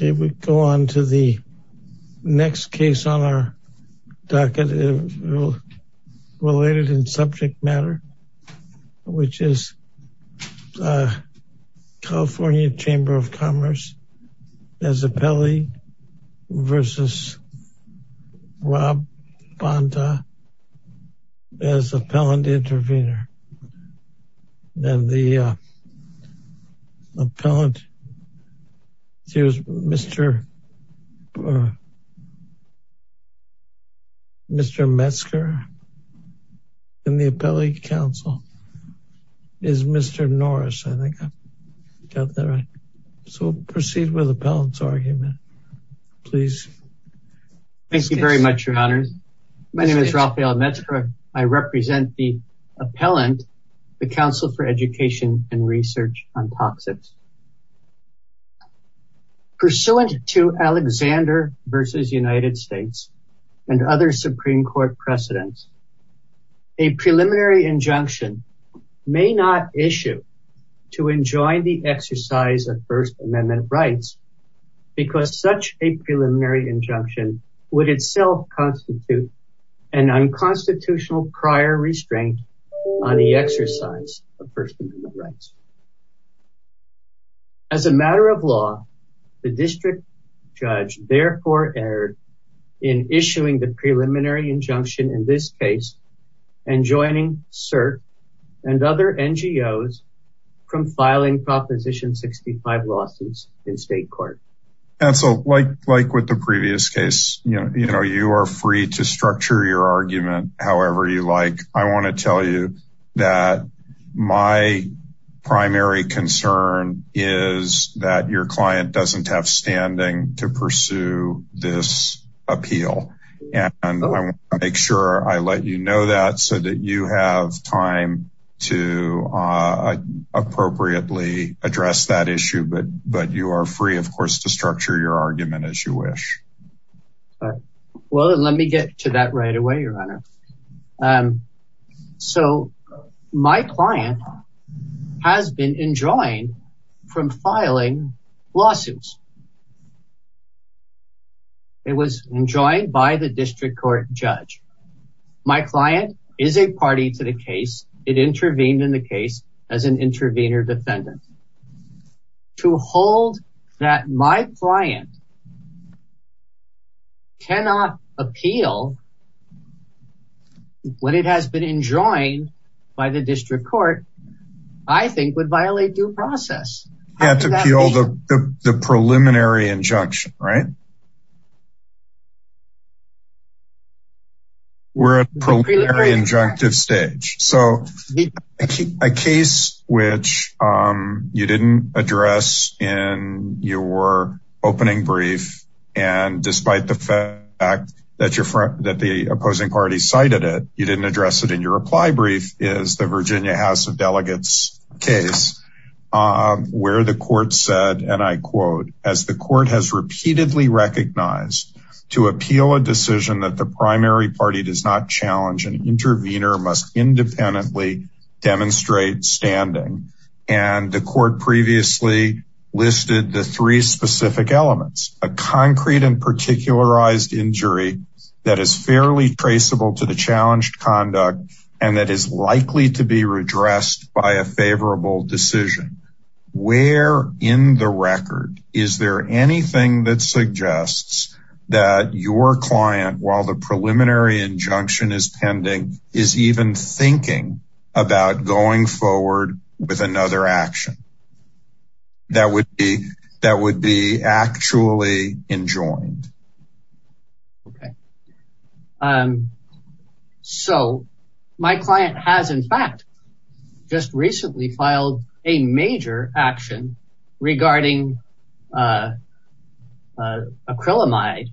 Okay we go on to the next case on our docket related in subject matter which is California Chamber of Commerce as appellee versus Rob Bonta as appellant intervener and the uh appellant here's Mr. Mr. Metzger in the appellate council is Mr. Norris I think I got that right so proceed with appellant's argument please. Thank you very much your honors my name is Rafael Metzger I represent the appellant the council for education and research on toxins. Pursuant to Alexander versus United States and other supreme court precedents a preliminary injunction may not issue to enjoin the exercise of first amendment rights because such a preliminary injunction would itself constitute an unconstitutional prior restraint on the exercise of first amendment rights. As a matter of law the district judge therefore erred in issuing the preliminary injunction in this case and joining cert and other NGOs from filing 65 lawsuits in state court. Council like with the previous case you know you are free to structure your argument however you like I want to tell you that my primary concern is that your client doesn't have standing to pursue this appeal and I want to make sure I let you know that so that you have time to appropriately address that issue but you are free of course to structure your argument as you wish. Well let me get to that right away your honor so my client has been enjoined from filing lawsuits it was enjoined by the district court judge my client is a party to the case it intervened in the case as an intervener defendant to hold that my client cannot appeal what it has been enjoined by the district court I think would violate due process. You have to appeal the the preliminary injunction right? We're at preliminary injunctive stage so a case which you didn't address in your opening brief and despite the fact that your front that the opposing party cited it you didn't address it in your reply brief is the Virginia House of Delegates case where the court said and I quote as the court has repeatedly recognized to appeal a decision that the primary party does not challenge an intervener must independently demonstrate standing and the court previously listed the three specific elements a concrete and particularized injury that is fairly traceable to the challenged conduct and that is likely to be redressed by a favorable decision where in the record is there anything that suggests that your client while the preliminary injunction is pending is even thinking about going forward with another action that would be that would be actually enjoined. Okay um so my client has in fact just recently filed a major action regarding uh uh acrylamide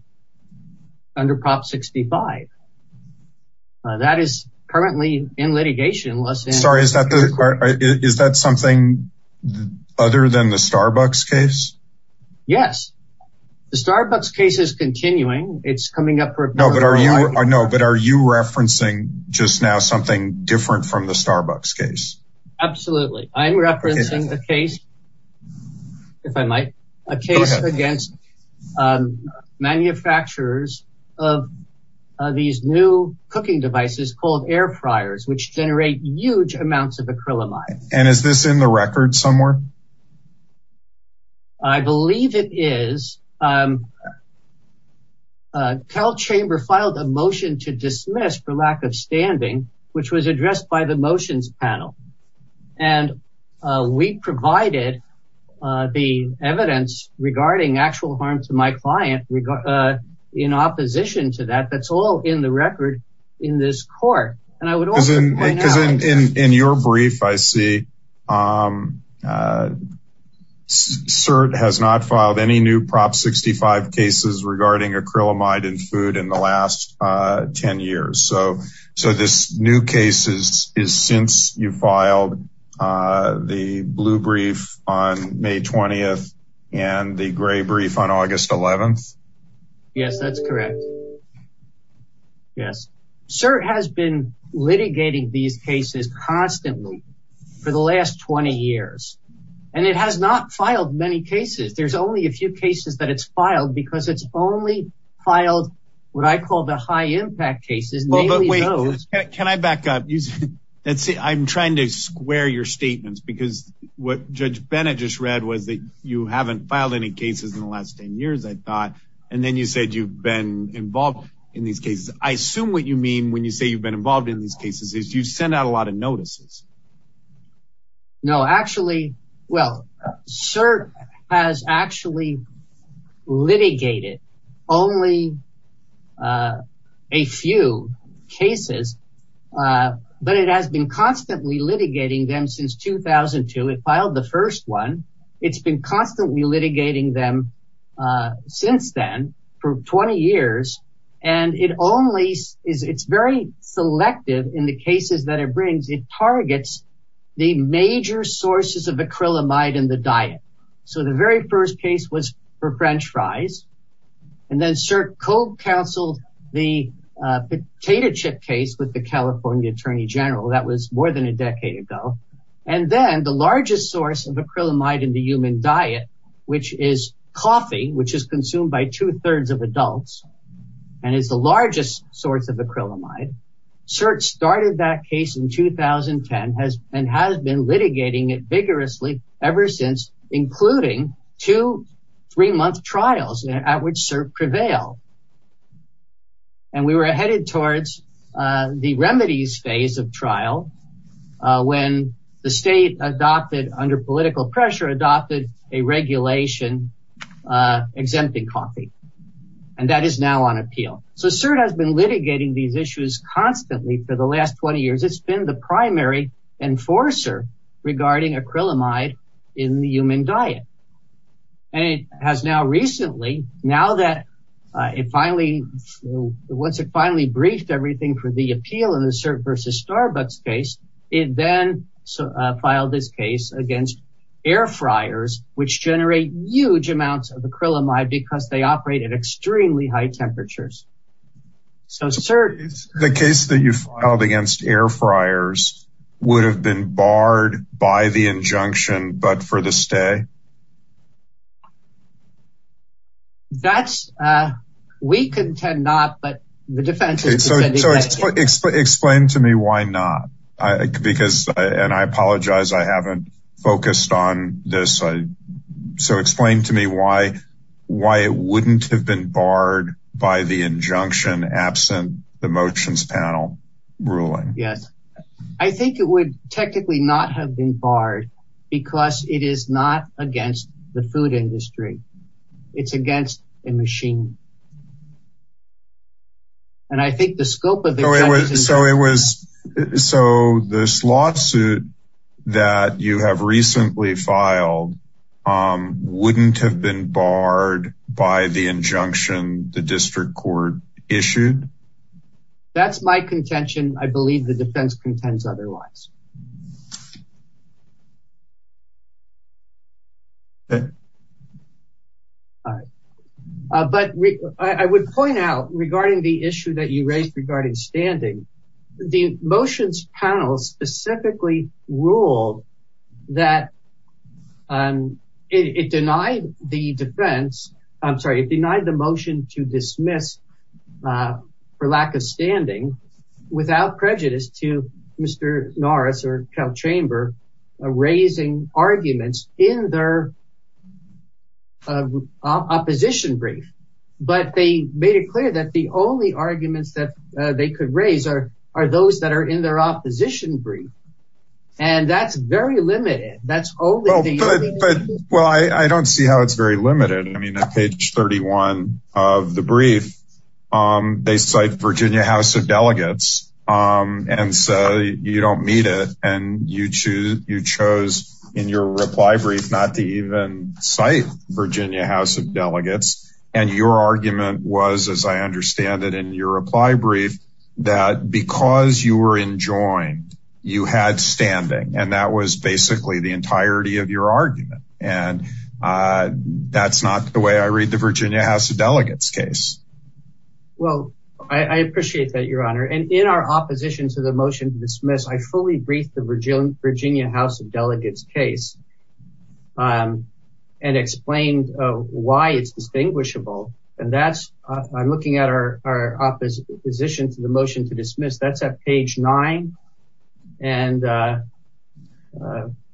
under prop 65 that is currently in litigation. Sorry is that the is that something other than the Starbucks case? Yes the Starbucks case is continuing it's coming up for no but are you I know but are you referencing just now something different from the Starbucks case? Absolutely I'm referencing the case if I might a case against manufacturers of these new cooking devices called air fryers which generate huge amounts of acrylamide. And is this in the record somewhere? I believe it is um uh Cal chamber filed a motion to dismiss for lack of standing which was addressed by the motions panel and uh we provided uh the evidence regarding actual harm to my client in opposition to that that's all in the record in this court and I would also because in in your brief I see um uh cert has not filed any new prop 65 cases regarding acrylamide and food in the last uh 10 years so so this new cases is since you filed uh the blue brief on May 20th and the gray brief on August 11th? Yes that's correct yes sir has been litigating these cases constantly for the last 20 years and it has not filed many cases there's only a few cases that it's filed because it's only filed what I call the high impact cases. But wait can I back up let's see I'm trying to square your statements because what Judge Bennett just read was that you haven't filed any cases in the last 10 years I thought and then you said you've been involved in these cases. I assume what you mean when you say you've been involved in these cases is you sent out a lot of notices. No actually well cert has actually litigated only uh a few cases uh but it has been constantly litigating them since 2002 it filed the first one it's been constantly litigating them uh since then for 20 years and it only is it's very selective in the cases that it brings it targets the major sources of acrylamide in the diet so the very first case was for french fries and then cert co-counseled the potato chip case with the California Attorney General that was more than a decade ago and then the largest source of acrylamide in the human diet which is coffee which is consumed by two-thirds of adults and is the largest source of acrylamide cert started that case in 2010 has and has been litigating it vigorously ever since including two three-month trials at which cert prevail and we were headed towards uh the remedies phase of trial uh when the state adopted under political pressure adopted a regulation uh exempting coffee and that is now on appeal so cert has been litigating these issues constantly for the and it has now recently now that uh it finally once it finally briefed everything for the appeal of the cert versus starbucks case it then filed this case against air fryers which generate huge amounts of acrylamide because they operate at extremely high temperatures so sir the case that you filed against air fryers would have been barred by the injunction but for to stay that's uh we contend not but the defense so so explain to me why not i because and i apologize i haven't focused on this so explain to me why why it wouldn't have been barred by the injunction absent the motions panel ruling yes i think it would technically not have been barred because it is not against the food industry it's against a machine and i think the scope of the so it was so this lawsuit that you have recently filed um wouldn't have been barred by the injunction the district court issued that's my contention i believe the defense contends otherwise okay all right but i would point out regarding the issue that you raised regarding standing the motions panel specifically ruled that um it denied the defense i'm sorry it denied the motion to dismiss uh for lack of standing without prejudice to mr norris or cal chamber raising arguments in their uh opposition brief but they made it clear that the only arguments that they could raise are are those that are in their opposition brief and that's very limited that's but well i i don't see how it's very limited i mean on page 31 of the brief um they cite virginia house of delegates um and so you don't meet it and you choose you chose in your reply brief not to even cite virginia house of delegates and your argument was as i understand it in your brief that because you were enjoined you had standing and that was basically the entirety of your argument and uh that's not the way i read the virginia house of delegates case well i i appreciate that your honor and in our opposition to the motion to dismiss i fully briefed the virginia house of delegates case um and explained uh why it's distinguishable and that's i'm looking at our our opposition to the motion to dismiss that's at page nine and uh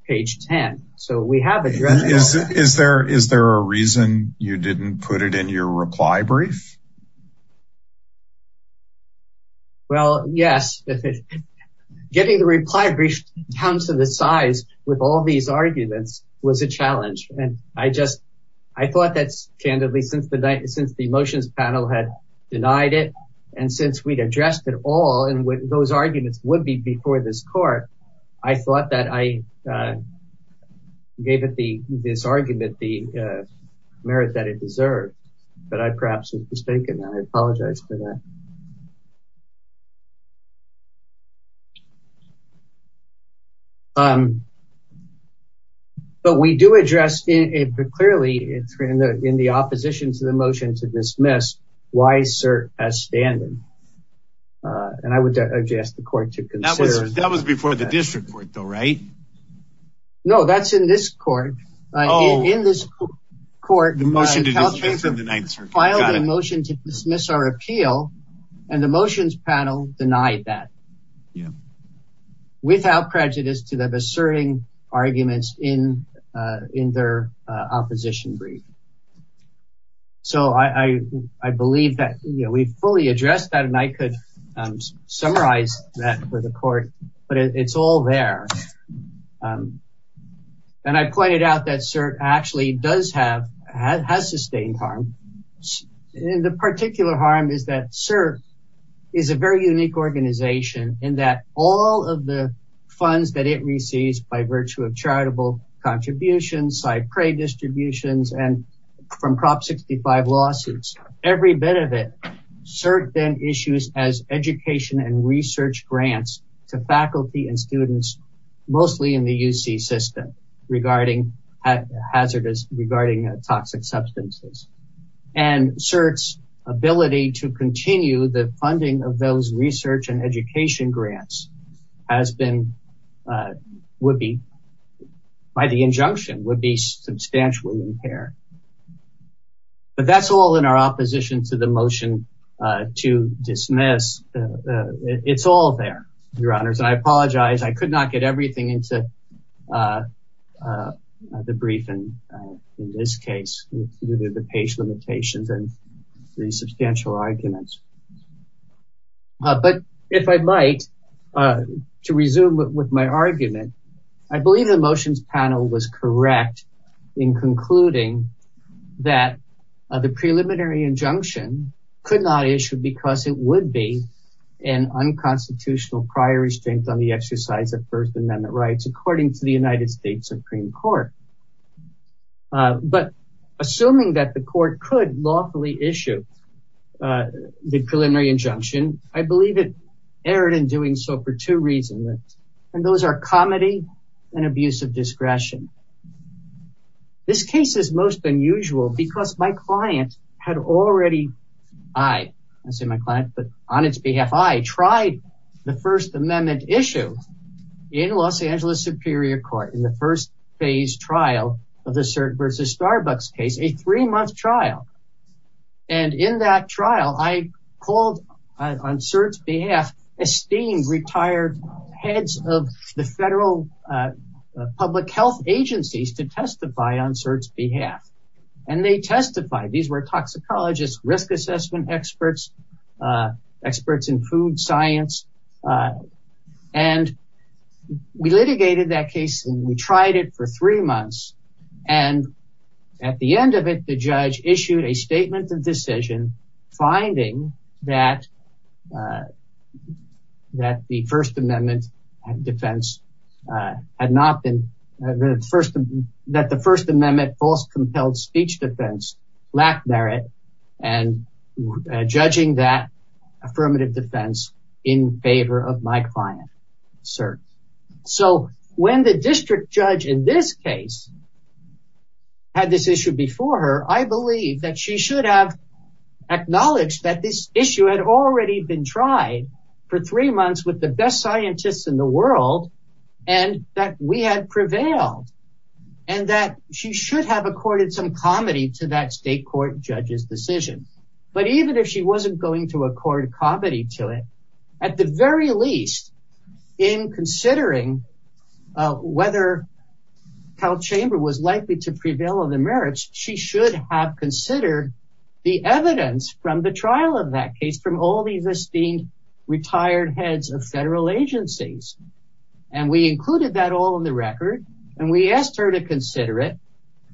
page 10 so we have it is is there is there a reason you didn't put it in your reply brief well yes getting the reply brief down to the size with all these arguments was a challenge and i just i thought that's candidly since the night since the motions panel had denied it and since we'd addressed it all and what those arguments would be before this court i thought that i gave it the this argument the merit that it deserved but i perhaps was mistaken i apologize for that um but we do address in it but clearly it's in the in the opposition to the motion to dismiss why sir as standing uh and i would address the court to consider that was before the district court though right no that's in this court uh in this court the motion to dismiss in the ninth and the motions panel denied that yeah without prejudice to the asserting arguments in uh in their uh opposition brief so i i i believe that you know we fully addressed that and i could um summarize that for the court but it's all there um and i pointed out that cert actually does have has sustained harm and the particular harm is that cert is a very unique organization in that all of the funds that it receives by virtue of charitable contributions side prey distributions and from prop 65 lawsuits every bit of it cert then issues as education and research grants to faculty and students mostly in the uc system regarding hazardous regarding toxic substances and cert's ability to continue the funding of those research and education grants has been uh would be by the injunction would be substantially impaired but that's all in opposition to the motion uh to dismiss it's all there your honors i apologize i could not get everything into uh uh the briefing in this case with the page limitations and three substantial arguments but if i might uh to resume with my argument i believe the motions panel was correct in concluding that the preliminary injunction could not issue because it would be an unconstitutional prior restraint on the exercise of first amendment rights according to the united states supreme court but assuming that the court could lawfully issue the preliminary injunction i believe it erred in doing so for two reasons and those are comedy and abuse of discretion this case is most unusual because my client had already i i say my client but on its behalf i tried the first amendment issue in los angeles superior court in the first phase trial of the cert versus starbucks case a three-month trial and in that trial i called on cert's behalf esteemed retired heads of the federal uh public health agencies to testify on cert's behalf and they testified these were toxicologists risk assessment experts uh experts in food science uh and we litigated that case and we tried it for a statement of decision finding that uh that the first amendment and defense uh had not been that the first amendment false compelled speech defense lack merit and judging that affirmative defense in favor of my client sir so when the district judge in this case had this issue before her i believe that she should have acknowledged that this issue had already been tried for three months with the best scientists in the world and that we had prevailed and that she should have accorded some comedy to that state court judge's decision but even if she wasn't going to accord comedy to it at the very least in considering uh whether health chamber was likely to prevail on the merits she should have considered the evidence from the trial of that case from all these esteemed retired heads of federal agencies and we included that all in the record and we asked her to consider it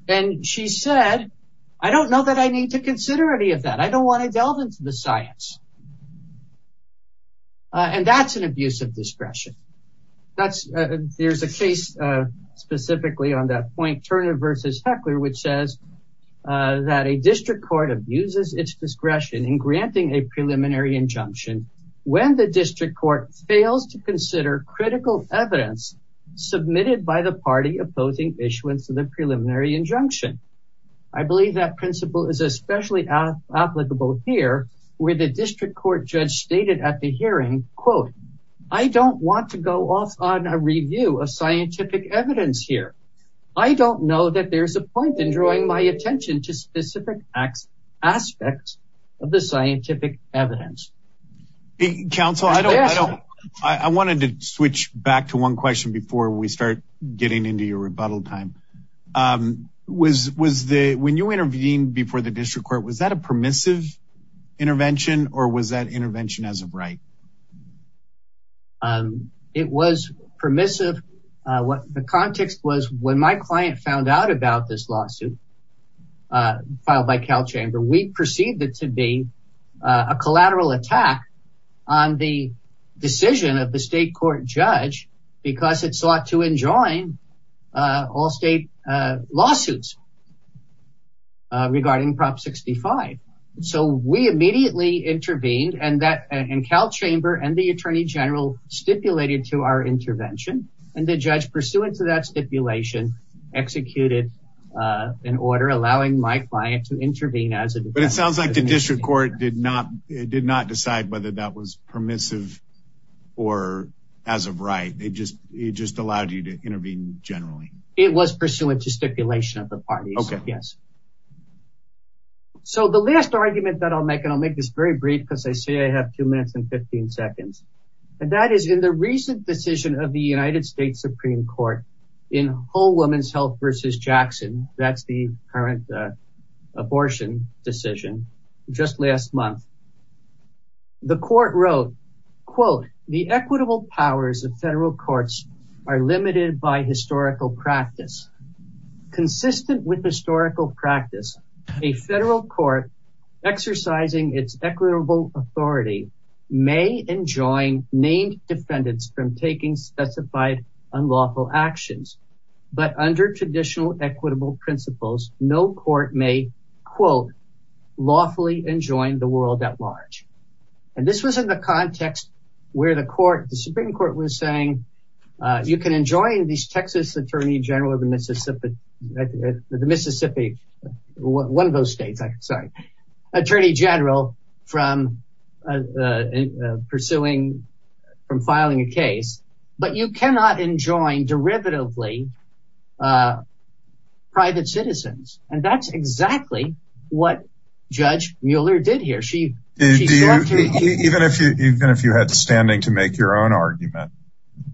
and she said i don't know that i need to consider any of that i don't want to delve into the science uh and that's an abuse of discretion that's uh there's a case uh specifically on that point turner versus heckler which says uh that a district court abuses its discretion in granting a preliminary injunction when the district court fails to consider critical evidence submitted by the party opposing issuance of the preliminary injunction i believe that principle is especially applicable here where the district court judge stated at the hearing quote i don't want to go off on a review of scientific evidence here i don't know that there's a point in drawing my attention to specific acts aspects of the scientific evidence council i don't i don't i wanted to switch back to one question before we start getting into your rebuttal time um was was when you intervened before the district court was that a permissive intervention or was that intervention as a right um it was permissive uh what the context was when my client found out about this lawsuit uh filed by cal chamber we perceived it to be a collateral attack on the decision of the state court judge because it sought to enjoin uh all state uh lawsuits regarding prop 65 so we immediately intervened and that and cal chamber and the attorney general stipulated to our intervention and the judge pursuant to that stipulation executed uh an order allowing my client to intervene as it but it sounds like the district court did not it did not decide whether that was permissive or as of right they just it just allowed you to intervene generally it was pursuant to stipulation of the party okay yes so the last argument that i'll make and i'll make this very brief because i say i have two minutes and 15 seconds and that is in the recent decision of the united states supreme court in whole women's health versus jackson that's the current uh abortion decision just last month the court wrote quote the equitable powers of federal courts are limited by historical practice consistent with historical practice a federal court exercising its equitable authority may enjoin named defendants from taking specified unlawful actions but under traditional equitable principles no court may quote lawfully enjoin the world at large and this was in the context where the court the supreme court was saying uh you can enjoy these texas attorney general of the mississippi the mississippi one of those states i'm sorry attorney general from uh pursuing from filing a case but you cannot enjoin derivatively uh private citizens and that's exactly what judge mueller did here she even if you even if you had standing to make your own argument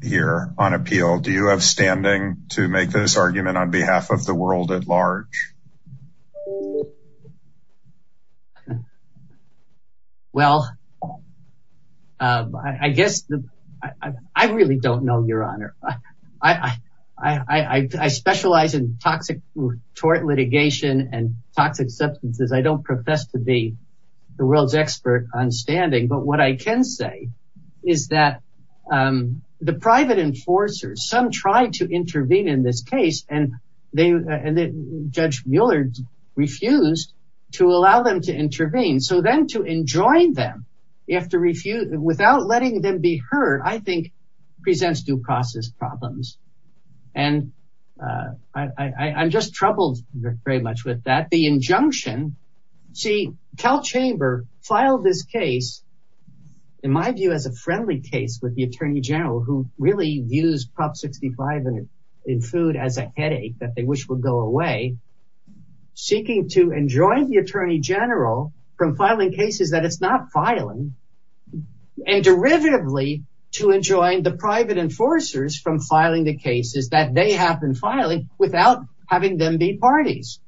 here on appeal do you have standing to make this argument on behalf of the world at large well um i guess i i really don't know your honor i i i i i specialize in toxic tort litigation and toxic substances i don't profess to be the world's expert on standing but what i can say is that um the private enforcers some tried to intervene in this case and they and judge muller refused to allow them to intervene so then to enjoin them you have to very much with that the injunction see cal chamber filed this case in my view as a friendly case with the attorney general who really views prop 65 and in food as a headache that they wish would go away seeking to enjoin the attorney general from filing cases that it's not filing and derivatively to enjoin the private enforcers from filing the cases that they have been filing without having them be parties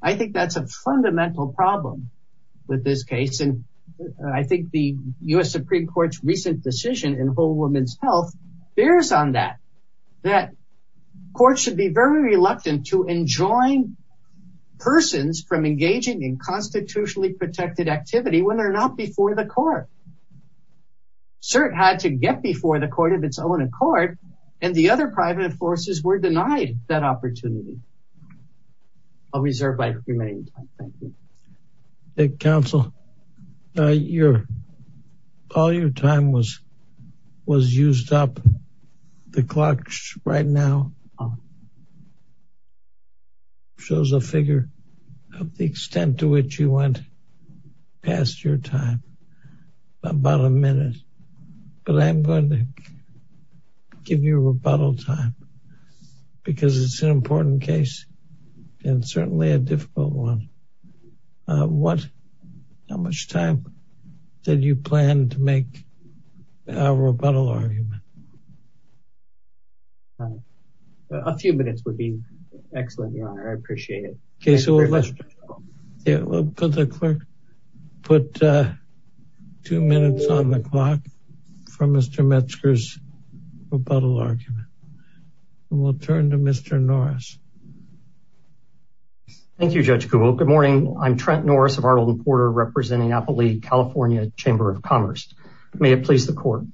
i think that's a fundamental problem with this case and i think the u.s supreme court's recent decision in whole woman's health bears on that that court should be very reluctant to enjoin persons from engaging in constitutionally protected activity when they're not before the court cert had to get before the court of its own accord and the other private forces were denied that opportunity i'll reserve my remaining time thank you council uh your all your time was was used up the clock right now shows a figure of the extent to which you went past your time about a minute but i'm going to give you a rebuttal time because it's an important case and certainly a difficult one uh what how much time did you plan to make a rebuttal argument all right a few minutes would be excellent your honor i appreciate it okay so let's yeah we'll put the clerk put uh two minutes on the clock for mr metzger's rebuttal argument and we'll turn to mr norris thank you judge google good morning i'm trent norris of ardleton porter representing apple league california chamber of commerce may it please the court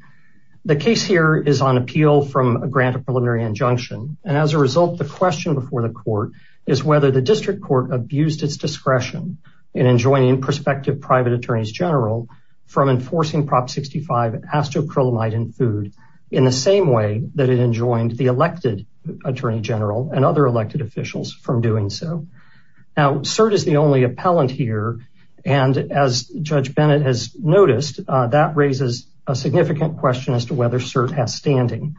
the case here is on appeal from a grant of preliminary injunction and as a result the question before the court is whether the district court abused its discretion in enjoining prospective private attorneys general from enforcing prop 65 astrochromite and food in the same way that it enjoined the elected attorney general and other elected officials from doing so now cert is the only appellant here and as judge bennett has noticed that raises a significant question as to whether cert has standing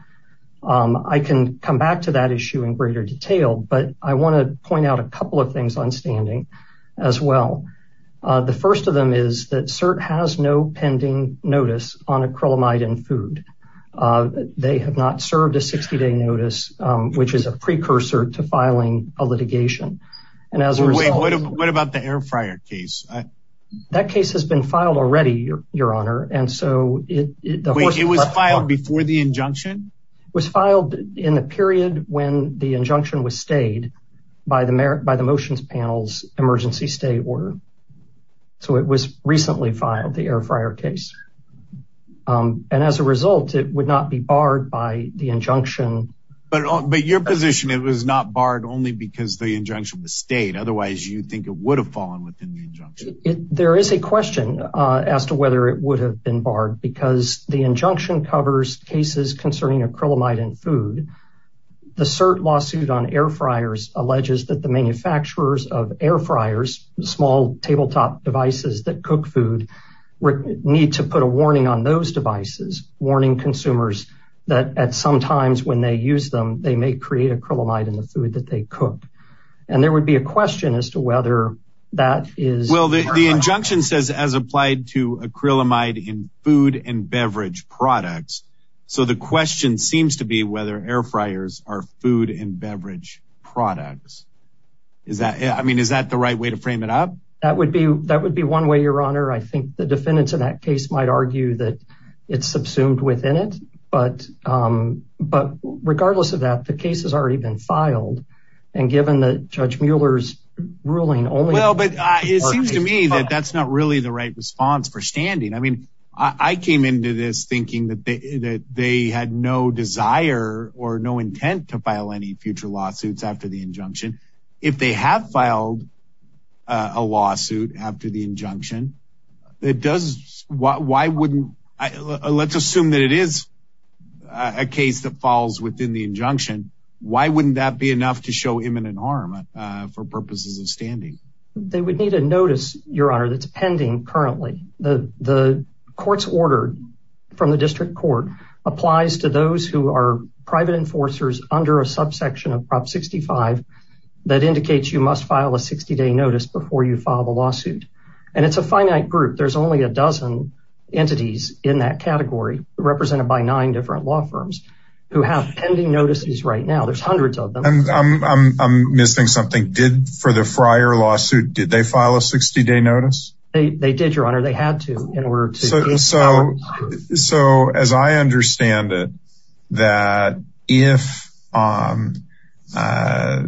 um i can come back to that issue in greater detail but i want to point out a couple of things on standing as well the first of them is that cert has no pending notice on acrylamide and food they have not served a 60-day notice which is a precursor to filing a litigation and as a result what about the air fryer case that case has been filed already your honor and so it was filed before the injunction was filed in the period when the injunction was stayed by the merit by the motions panels emergency stay order so it was recently filed the air fryer case um and as a result it would not be barred by the injunction but but your position it was not barred only because the injunction was stayed otherwise you think it would have fallen within the injunction there is a question uh as to whether it would have been barred because the injunction covers cases concerning acrylamide and food cert lawsuit on air fryers alleges that the manufacturers of air fryers small tabletop devices that cook food need to put a warning on those devices warning consumers that at some times when they use them they may create acrylamide in the food that they cook and there would be a question as to whether that is well the injunction says as applied to acrylamide in food and beverage products so the question seems to be whether air fryers are food and beverage products is that yeah i mean is that the right way to frame it up that would be that would be one way your honor i think the defendants in that case might argue that it's subsumed within it but um but regardless of that the case has already been filed and given the judge muller's ruling only well but it seems to me that that's not really the right response for standing i mean i i came into this thinking that they that they had no desire or no intent to file any future lawsuits after the injunction if they have filed a lawsuit after the injunction it does why wouldn't let's assume that it is a case that falls within the injunction why wouldn't that be enough to show imminent harm for purposes of standing they would need a notice your honor that's pending currently the the court's order from the district court applies to those who are private enforcers under a subsection of prop 65 that indicates you must file a 60-day notice before you file the lawsuit and it's a finite group there's only a dozen entities in that category represented by nine different law firms who have pending notices right now there's hundreds of them i'm i'm missing something did for the fryer lawsuit did they file a 60-day notice they did your honor they had to in order to so so as i understand it that if um uh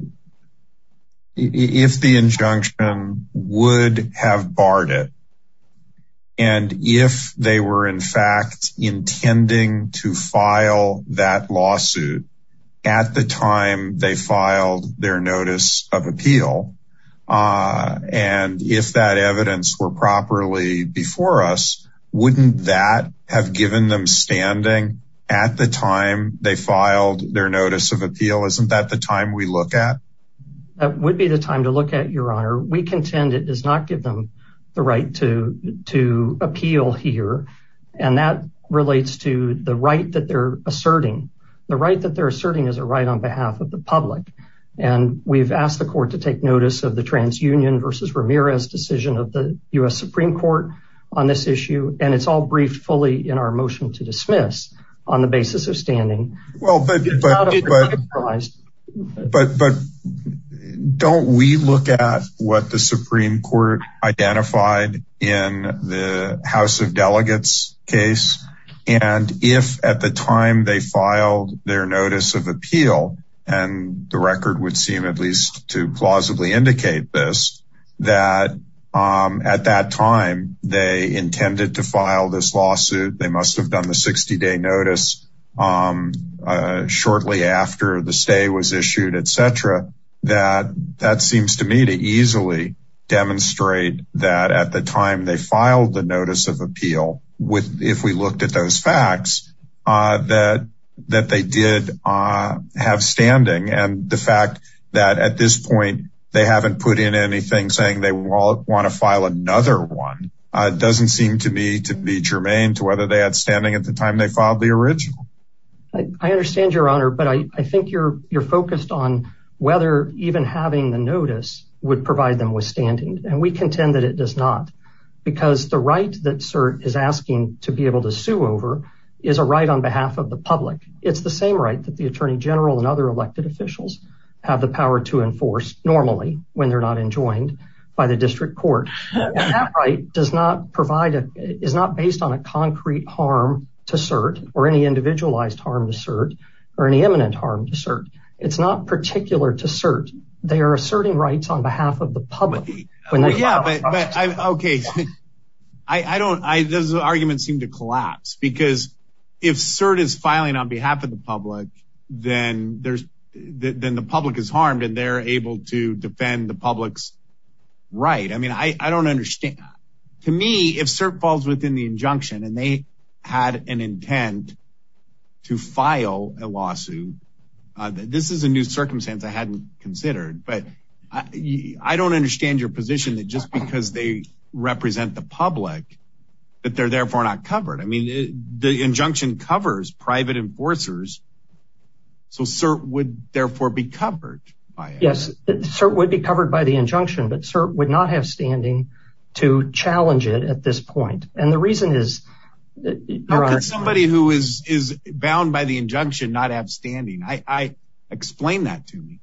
if the injunction would have barred it and if they were in fact intending to file that lawsuit at the time they filed their notice of appeal uh and if that evidence were properly before us wouldn't that have given them standing at the time they filed their notice of appeal isn't that the time we look at that would be the time to look at your honor we contend it does not give them the right to to appeal here and that relates to the right that they're asserting the right that they're asserting is a right on behalf of the public and we've asked the court to take notice of the transunion versus ramirez decision of the u.s supreme court on this issue and it's all briefed fully in our motion to dismiss on the basis of standing well but but but but but don't we look at what the supreme court identified in the house of delegates case and if at the time they filed their notice of appeal and the record would seem at least to plausibly indicate this that um at that time they intended to file this lawsuit they must have done the 60-day notice um shortly after the stay was issued etc that that seems to me to easily demonstrate that at the time they filed the notice of appeal with if we looked at those facts uh that that they did uh have standing and the fact that at this to be germane to whether they had standing at the time they filed the original i understand your honor but i i think you're you're focused on whether even having the notice would provide them with standing and we contend that it does not because the right that cert is asking to be able to sue over is a right on behalf of the public it's the same right that the attorney general and other elected officials have the power to enforce normally when they're not enjoined by district court that right does not provide a is not based on a concrete harm to cert or any individualized harm to cert or any imminent harm to cert it's not particular to cert they are asserting rights on behalf of the public yeah but i'm okay i i don't i those arguments seem to collapse because if cert is filing on behalf of the public then there's then the public is harmed and they're able to defend the public's right i mean i i don't understand to me if cert falls within the injunction and they had an intent to file a lawsuit uh this is a new circumstance i hadn't considered but i i don't understand your position that just because they represent the public that they're therefore not covered i mean the injunction covers private enforcers so cert would therefore be covered by yes cert would be covered by the injunction but cert would not have standing to challenge it at this point and the reason is somebody who is is bound by the injunction not have standing i i explain that to me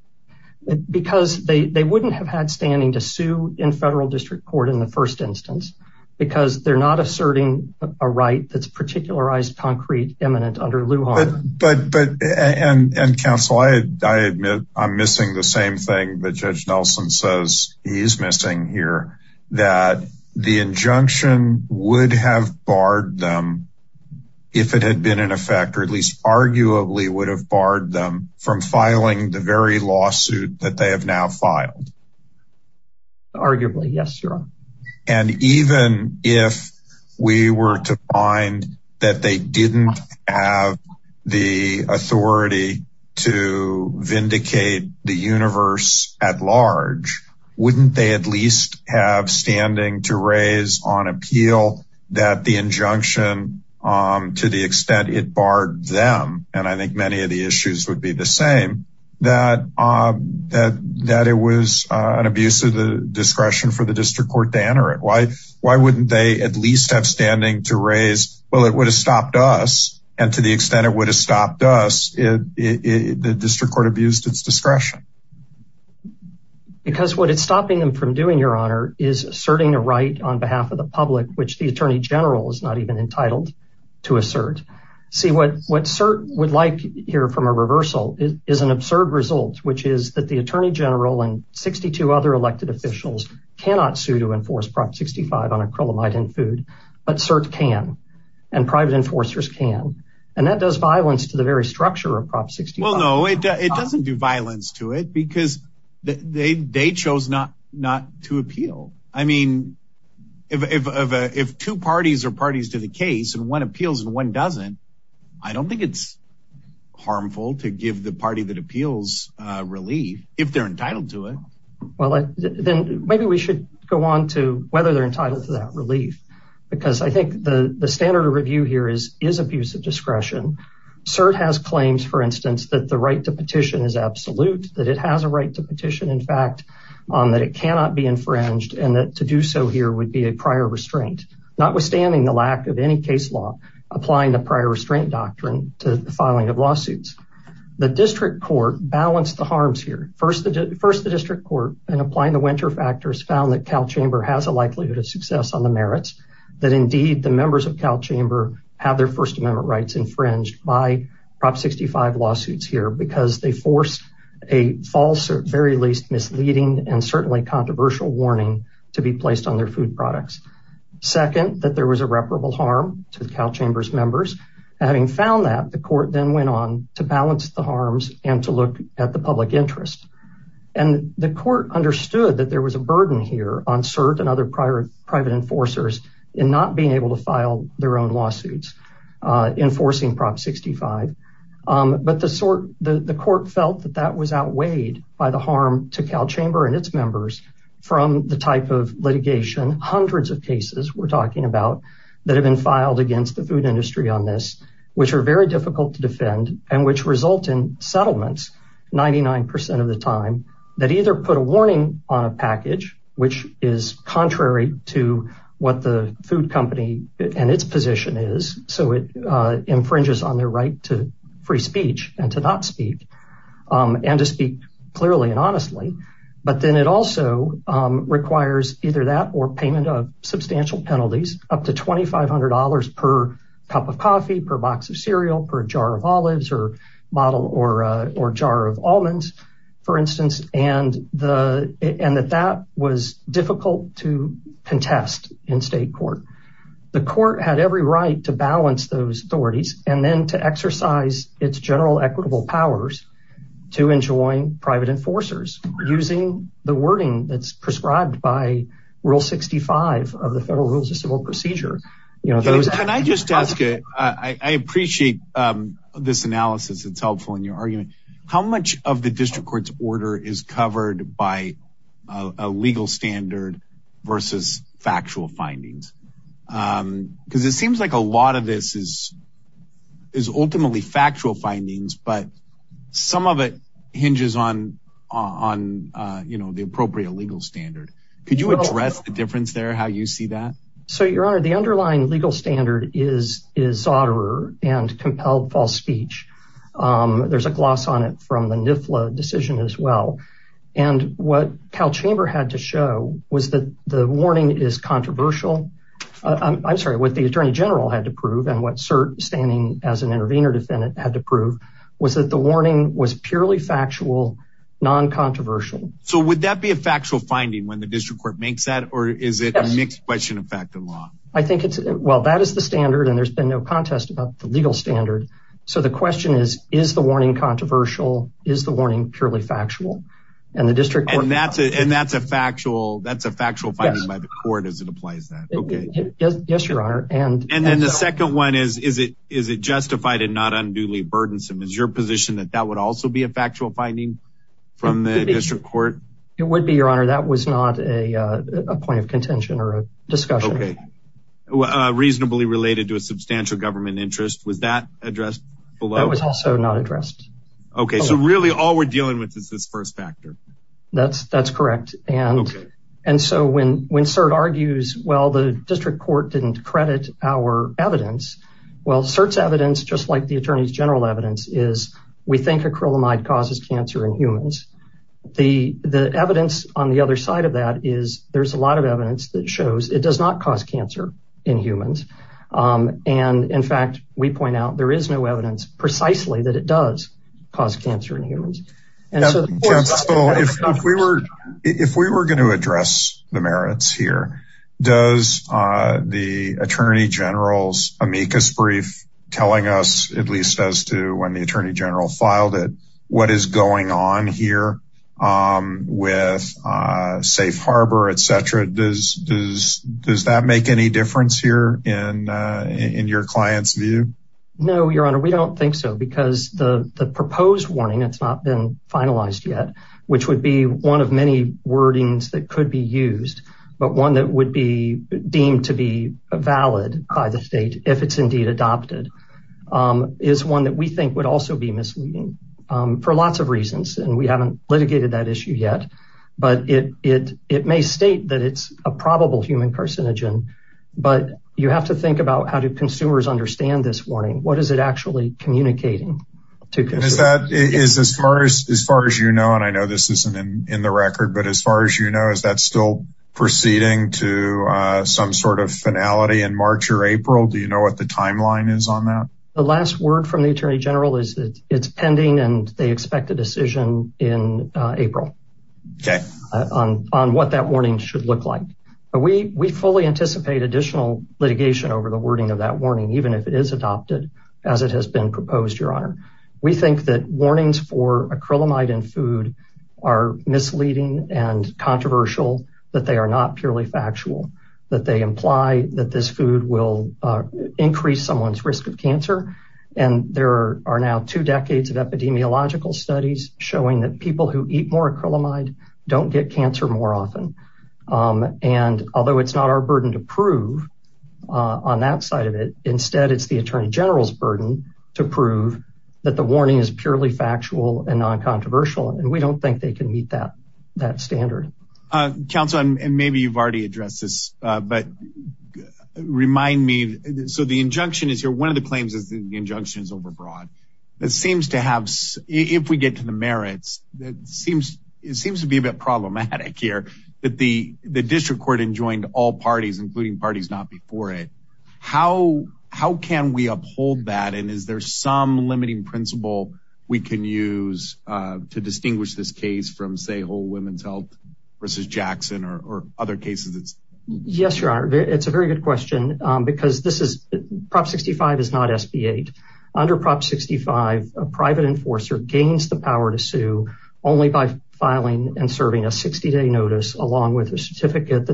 because they they wouldn't have had standing to sue in federal district court in the first instance because they're not asserting a right that's particularized concrete eminent under lujan but but and and counsel i i admit i'm missing the same thing that judge nelson says he's missing here that the injunction would have barred them if it had been in effect or at least arguably would have barred them from filing the very they didn't have the authority to vindicate the universe at large wouldn't they at least have standing to raise on appeal that the injunction um to the extent it barred them and i think many of the issues would be the same that um that that it was uh an abuse of the discretion for the well it would have stopped us and to the extent it would have stopped us it the district court abused its discretion because what it's stopping them from doing your honor is asserting a right on behalf of the public which the attorney general is not even entitled to assert see what what cert would like here from a reversal is an absurd result which is that the attorney general and and private enforcers can and that does violence to the very structure of prop 60 well no it doesn't do violence to it because they they chose not not to appeal i mean if if if two parties are parties to the case and one appeals and one doesn't i don't think it's harmful to give the party that appeals uh relief if they're entitled to it well then maybe we should go on to whether they're entitled to that relief because i think the the standard of review here is is abuse of discretion cert has claims for instance that the right to petition is absolute that it has a right to petition in fact on that it cannot be infringed and that to do so here would be a prior restraint notwithstanding the lack of any case law applying the prior restraint doctrine to the filing of lawsuits the district court balanced the harms here first the first the district court and cal chamber has a likelihood of success on the merits that indeed the members of cal chamber have their first amendment rights infringed by prop 65 lawsuits here because they forced a false or very least misleading and certainly controversial warning to be placed on their food products second that there was irreparable harm to the cal chambers members having found that the court then went on to balance the harms and to look at the public interest and the court understood that there was a burden here on cert and other prior private enforcers in not being able to file their own lawsuits uh enforcing prop 65 um but the sort the the court felt that that was outweighed by the harm to cal chamber and its members from the type of litigation hundreds of cases we're talking about that have been filed against the food industry on this which are very difficult to defend and which result in settlements 99 of the time that either put a warning on a package which is contrary to what the food company and its position is so it uh infringes on their right to free speech and to not speak um and to speak clearly and honestly but then it also um requires either that or payment of substantial penalties up to twenty five hundred dollars per cup of coffee per box of cereal per jar of olives or bottle or or jar of almonds for instance and the and that that was difficult to contest in state court the court had every right to balance those authorities and then to exercise its general equitable powers to enjoin private enforcers using the wording that's prescribed by rule 65 of the federal rules of civil procedure you know those can i just ask i i appreciate um this analysis it's helpful in your argument how much of the district court's order is covered by a legal standard versus factual findings um because it seems like a lot of this is is ultimately factual findings but some of it hinges on on uh you know the appropriate legal standard could you address the difference there how you see that so your honor the underlying legal standard is is otter and compelled false speech um there's a gloss on it from the nifla decision as well and what cal chamber had to show was that the warning is controversial i'm sorry what the attorney general had to prove and what cert standing as an intervener defendant had to prove was that the warning was purely factual non-controversial so would that be a factual finding when the district court makes that or is it a mixed question of fact and law i think it's well that is the standard and there's been no contest about the legal standard so the question is is the warning controversial is the warning purely factual and the district and that's it and that's a factual that's a factual finding by the court as it applies that okay yes yes your honor and and then the second one is is it is it justified and not unduly burdensome is your position that that would also be a factual finding from the district court it would be your that was not a uh a point of contention or a discussion okay uh reasonably related to a substantial government interest was that addressed below that was also not addressed okay so really all we're dealing with is this first factor that's that's correct and and so when when cert argues well the district court didn't credit our evidence well cert's evidence just like the attorney's general evidence is we think acrylamide causes cancer in humans the the evidence on the other side of that is there's a lot of evidence that shows it does not cause cancer in humans um and in fact we point out there is no evidence precisely that it does cause cancer in humans and so if we were if we were going to address the merits here does uh the attorney general's amicus brief telling us at least as to when the attorney filed it what is going on here um with uh safe harbor etc does does does that make any difference here in uh in your client's view no your honor we don't think so because the the proposed warning it's not been finalized yet which would be one of many wordings that could be used but one that would be deemed to be valid by the state if it's indeed adopted um is one that we think would also be misleading um for lots of reasons and we haven't litigated that issue yet but it it it may state that it's a probable human carcinogen but you have to think about how do consumers understand this warning what is it actually communicating to because that is as far as as far as you know and i know this isn't in the record but as far as you know is that still proceeding to uh some sort of finality in march or april do you know what the timeline is on that last word from the attorney general is that it's pending and they expect a decision in april okay on on what that warning should look like but we we fully anticipate additional litigation over the wording of that warning even if it is adopted as it has been proposed your honor we think that warnings for acrylamide and food are misleading and controversial that they are not purely factual that they imply that this food will increase someone's risk of cancer and there are now two decades of epidemiological studies showing that people who eat more acrylamide don't get cancer more often um and although it's not our burden to prove on that side of it instead it's the attorney general's burden to prove that the warning is purely factual and non-controversial and we don't think they can meet that that standard uh council and maybe you've already addressed this uh but remind me so the injunction is here one of the claims is the injunction is overbroad that seems to have if we get to the merits that seems it seems to be a bit problematic here that the the district court enjoined all parties including parties not before it how how we uphold that and is there some limiting principle we can use uh to distinguish this case from say whole women's health versus jackson or other cases it's yes your honor it's a very good question um because this is prop 65 is not sb8 under prop 65 a private enforcer gains the power to sue only by filing and serving a 60-day notice along with a certificate that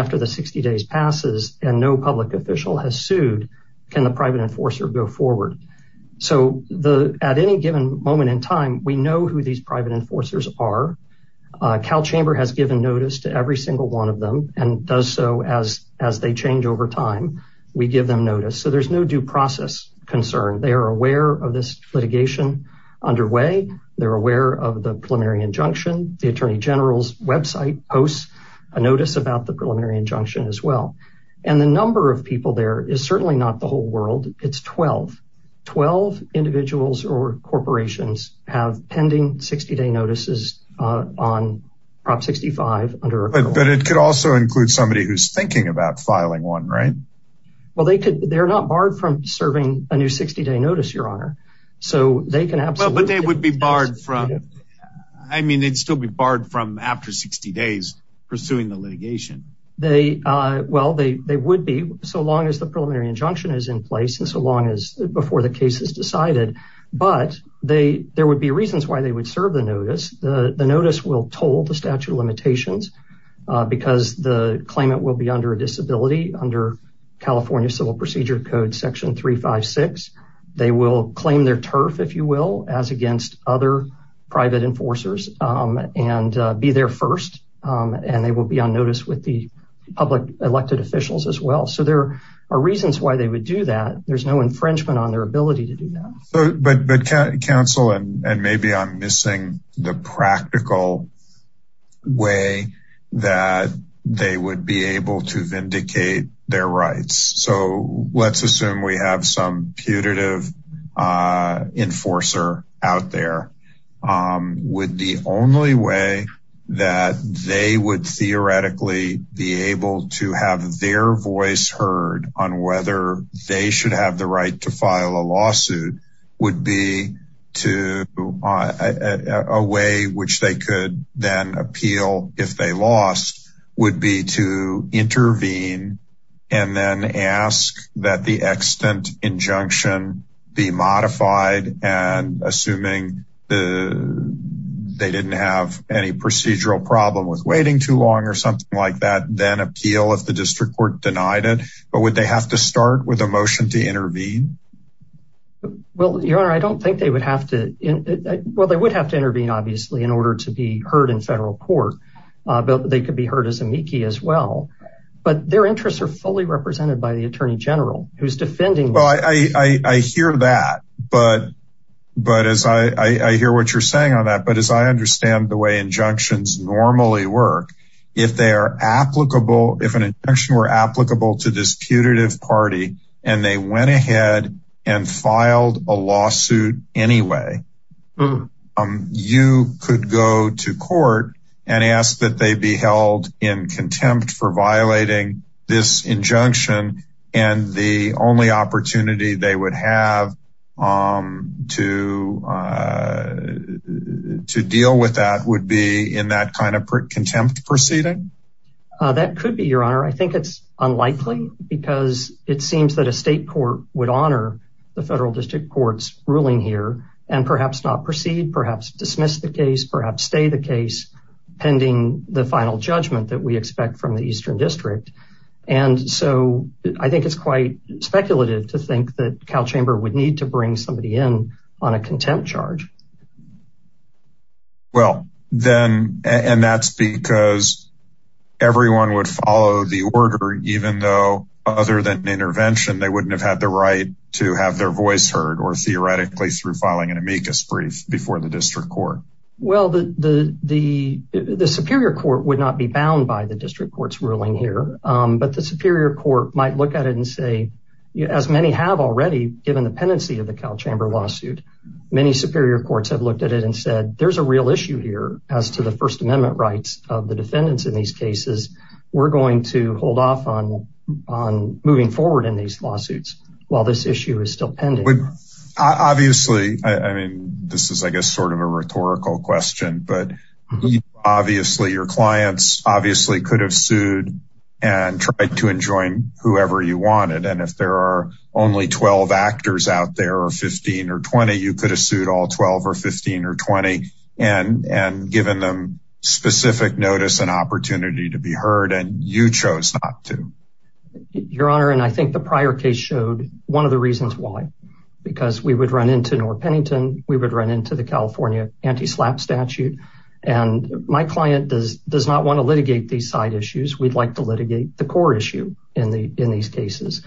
after the 60 days passes and no public official has sued can the private enforcer go forward so the at any given moment in time we know who these private enforcers are cal chamber has given notice to every single one of them and does so as as they change over time we give them notice so there's no due process concern they are aware of this litigation underway they're aware of the preliminary injunction the attorney general's website posts a notice about the preliminary injunction as well and the number of people there is certainly not the whole world it's 12 12 individuals or corporations have pending 60-day notices uh on prop 65 under but it could also include somebody who's thinking about filing one right well they could they're not barred from serving a new 60-day notice your honor so they they would be barred from i mean they'd still be barred from after 60 days pursuing the litigation they uh well they they would be so long as the preliminary injunction is in place and so long as before the case is decided but they there would be reasons why they would serve the notice the notice will toll the statute of limitations uh because the claimant will be under a disability under california civil procedure code section 356 they will claim their turf if you will as against other private enforcers and be there first and they will be on notice with the public elected officials as well so there are reasons why they would do that there's no infringement on their ability to do that but but council and maybe i'm missing the practical way that they would be able to vindicate their rights so let's assume we have some putative uh enforcer out there um with the only way that they would theoretically be able to have their voice heard on whether they should have the right to file a lawsuit would be to a way which they could then appeal if they lost would be to intervene and then ask that the extant injunction be modified and assuming the they didn't have any procedural problem with waiting too long or something like that then appeal if the district court denied it but would they have to start with a motion to intervene well your honor i don't think they would have to well they would have to intervene obviously in order to be heard in federal court but they could be heard as amici as well but their interests are fully represented by the attorney general who's defending well i i i hear that but but as i i i hear what you're saying on that but as i understand the way injunctions normally work if they are applicable if an injection were applicable to this putative party and they went ahead and filed a lawsuit anyway um you could go to court and ask that they be held in contempt for violating this injunction and the only opportunity they would have um to uh to deal with that would be in that kind of contempt proceeding uh that could be your honor i think it's unlikely because it perhaps not proceed perhaps dismiss the case perhaps stay the case pending the final judgment that we expect from the eastern district and so i think it's quite speculative to think that cal chamber would need to bring somebody in on a contempt charge well then and that's because everyone would follow the order even though other than intervention they wouldn't have had the right to have their voice heard or theoretically through filing an amicus brief before the district court well the the the superior court would not be bound by the district court's ruling here but the superior court might look at it and say as many have already given the pendency of the cal chamber lawsuit many superior courts have looked at it and said there's a real issue here as to the first amendment rights of the defendants in these cases we're going to hold off on on this issue is still pending obviously i mean this is i guess sort of a rhetorical question but obviously your clients obviously could have sued and tried to enjoin whoever you wanted and if there are only 12 actors out there or 15 or 20 you could have sued all 12 or 15 or 20 and and given them specific notice and opportunity to be heard and you chose not to your honor and i think the prior case showed one of the reasons why because we would run into nor pennington we would run into the california anti-slap statute and my client does does not want to litigate these side issues we'd like to litigate the court issue in the in these cases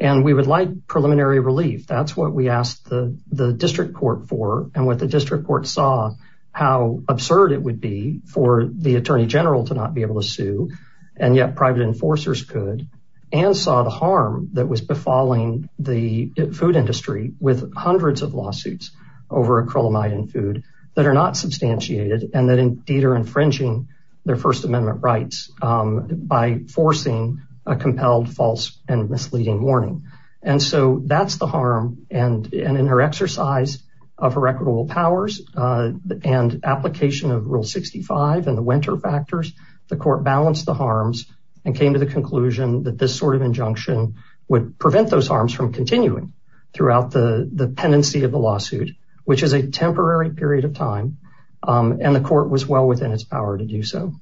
and we would like preliminary relief that's what we asked the the district court for and what the district court saw how absurd it would be for the attorney general to not be able to sue and yet private enforcers could and saw the that was befalling the food industry with hundreds of lawsuits over acrylamide and food that are not substantiated and that indeed are infringing their first amendment rights by forcing a compelled false and misleading warning and so that's the harm and and in her exercise of her equitable powers and application of rule 65 and the winter factors the court balanced the harms and came to the conclusion that this sort of injunction would prevent those harms from continuing throughout the the pendency of the lawsuit which is a temporary period of time and the court was well within its power to do so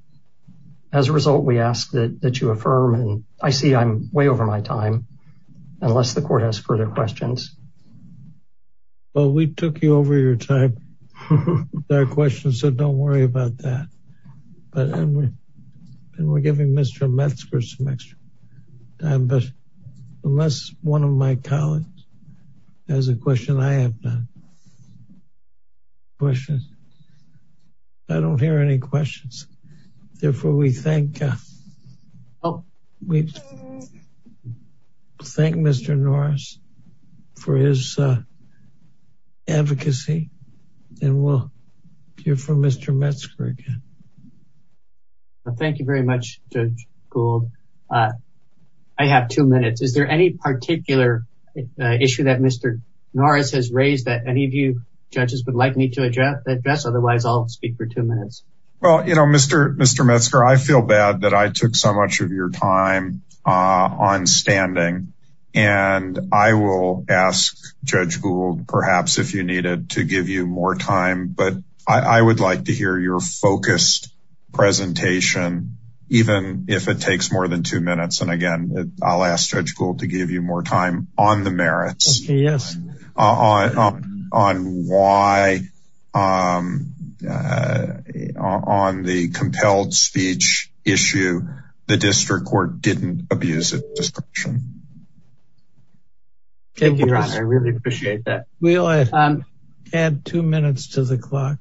as a result we ask that that you affirm and i see i'm way over my time unless the court has further questions well we took you over your time there are questions so don't worry about that but and we and we're giving mr metzger some extra time but unless one of my colleagues has a question i have done questions i don't hear any questions therefore we thank uh oh we and we'll hear from mr metzger again thank you very much judge gould uh i have two minutes is there any particular issue that mr norris has raised that any of you judges would like me to address address otherwise i'll speak for two minutes well you know mr mr metzger i feel bad that i took so much of your time uh on standing and i will ask judge gould perhaps if you needed to give you more time but i i would like to hear your focused presentation even if it takes more than two minutes and again i'll ask judge gould to give you more time on the merits yes uh on on why um uh on the compelled speech issue the district court didn't abuse it description thank you i really appreciate that we'll add two minutes to the clock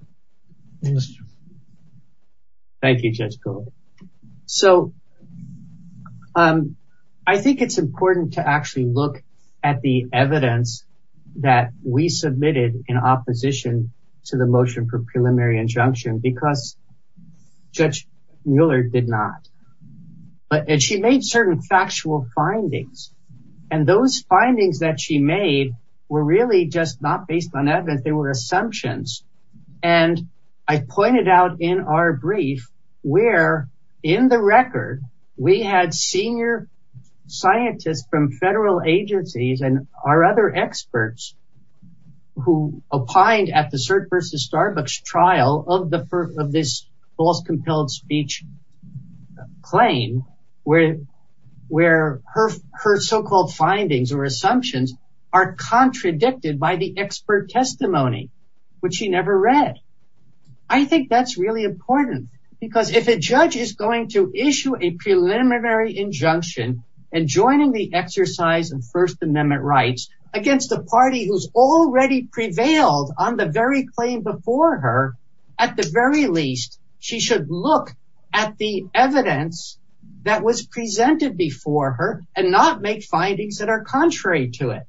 thank you just go so um i think it's important to actually look at the evidence that we submitted in opposition to the motion for preliminary injunction because judge mueller did not but she made certain factual findings and those findings that she made were really just not based on evidence they were assumptions and i pointed out in our brief where in the record we had senior scientists from federal agencies and our other experts who opined at the cert versus starbucks trial of the first of this false compelled speech claim where where her her so-called findings or assumptions are contradicted by the expert testimony which she never read i think that's really important because if a judge is going to issue a preliminary injunction and joining the exercise of first amendment rights against the party who's already prevailed on the very claim before her at the very least she should look at the evidence that was presented before her and not make findings that are contrary to it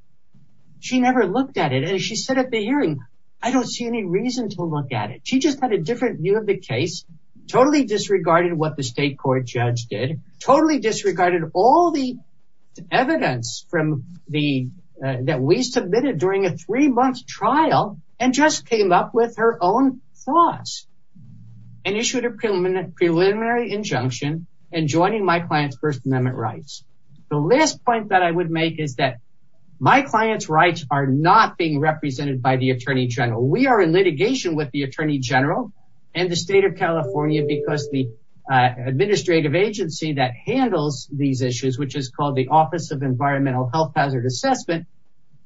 she never looked at it and she said at the hearing i don't see any reason to look at it she just had a different view of the case totally disregarded what the state court judge did totally disregarded all the evidence from the that we trial and just came up with her own thoughts and issued a preliminary injunction and joining my client's first amendment rights the last point that i would make is that my client's rights are not being represented by the attorney general we are in litigation with the attorney general and the state of california because the administrative agency that handles these issues which is called the office of environmental health hazard assessment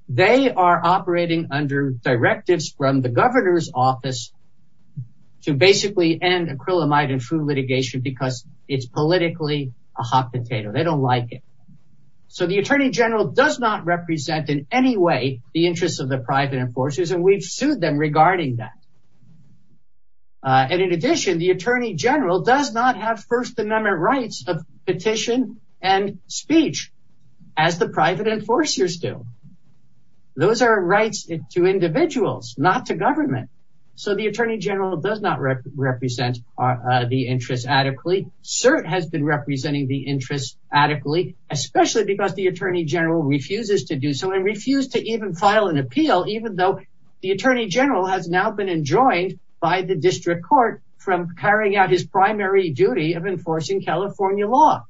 they are operating under directives from the governor's office to basically end acrylamide and food litigation because it's politically a hot potato they don't like it so the attorney general does not represent in any way the interests of the private enforcers and we've sued them regarding that and in addition the attorney general does not have first amendment rights of petition and speech as the private enforcers do those are rights to individuals not to government so the attorney general does not represent the interest adequately cert has been representing the interest adequately especially because the attorney general refuses to do so and refuse to even file an appeal even though the attorney general has now been enjoined by the district court from carrying out his primary duty of enforcing california law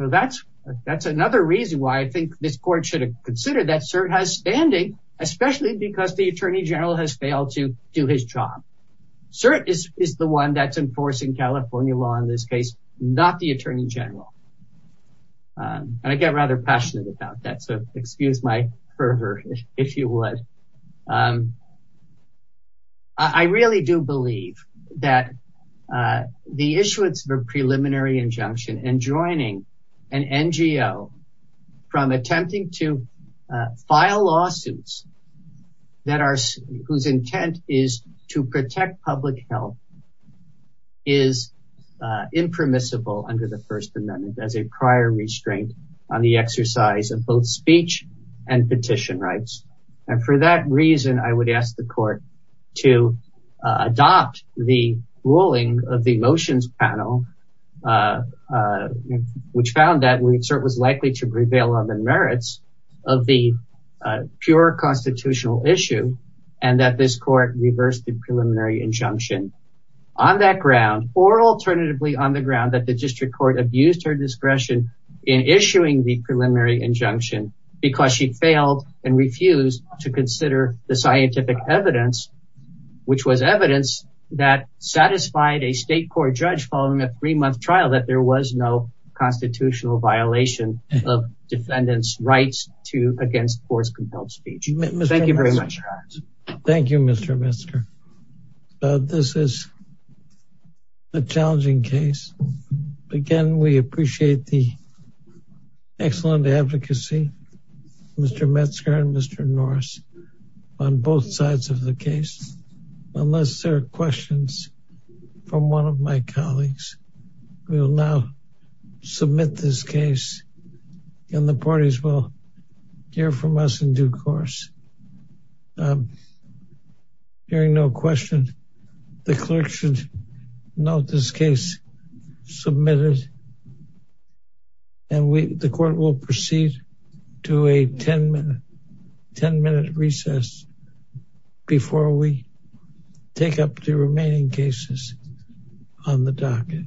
so that's that's another reason why i think this court should consider that cert has standing especially because the attorney general has failed to do his job cert is is the one that's enforcing california law in this case not the attorney general and i get rather passionate about that so excuse my pervert if you would um i really do believe that uh the issuance of a preliminary injunction and joining an NGO from attempting to file lawsuits that are whose intent is to protect public health is uh impermissible under the first amendment as a prior restraint on the exercise of both speech and petition rights and for that reason i would ask the court to adopt the ruling of the motions panel uh uh which found that we insert was likely to prevail on the merits of the uh pure constitutional issue and that this court reversed the preliminary injunction on that ground or alternatively on the ground that the district court abused her discretion in issuing the preliminary injunction because she failed and refused to consider the scientific evidence which was evidence that satisfied a state court judge following a three-month trial that there was no constitutional violation of defendants rights to against force compelled speech thank you very much thank you mr mister uh this is a challenging case again we appreciate the excellent advocacy mr metzger and mr norris on both sides of the case unless there are questions from one of my colleagues we will now submit this case and the parties will hear from us in due course um hearing no question the clerk should note this case submitted and we the court will proceed to a 10 minute 10 minute recess before we take up the remaining cases on the docket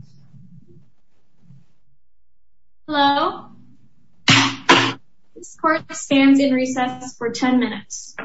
hello this court stands in recess for 10 minutes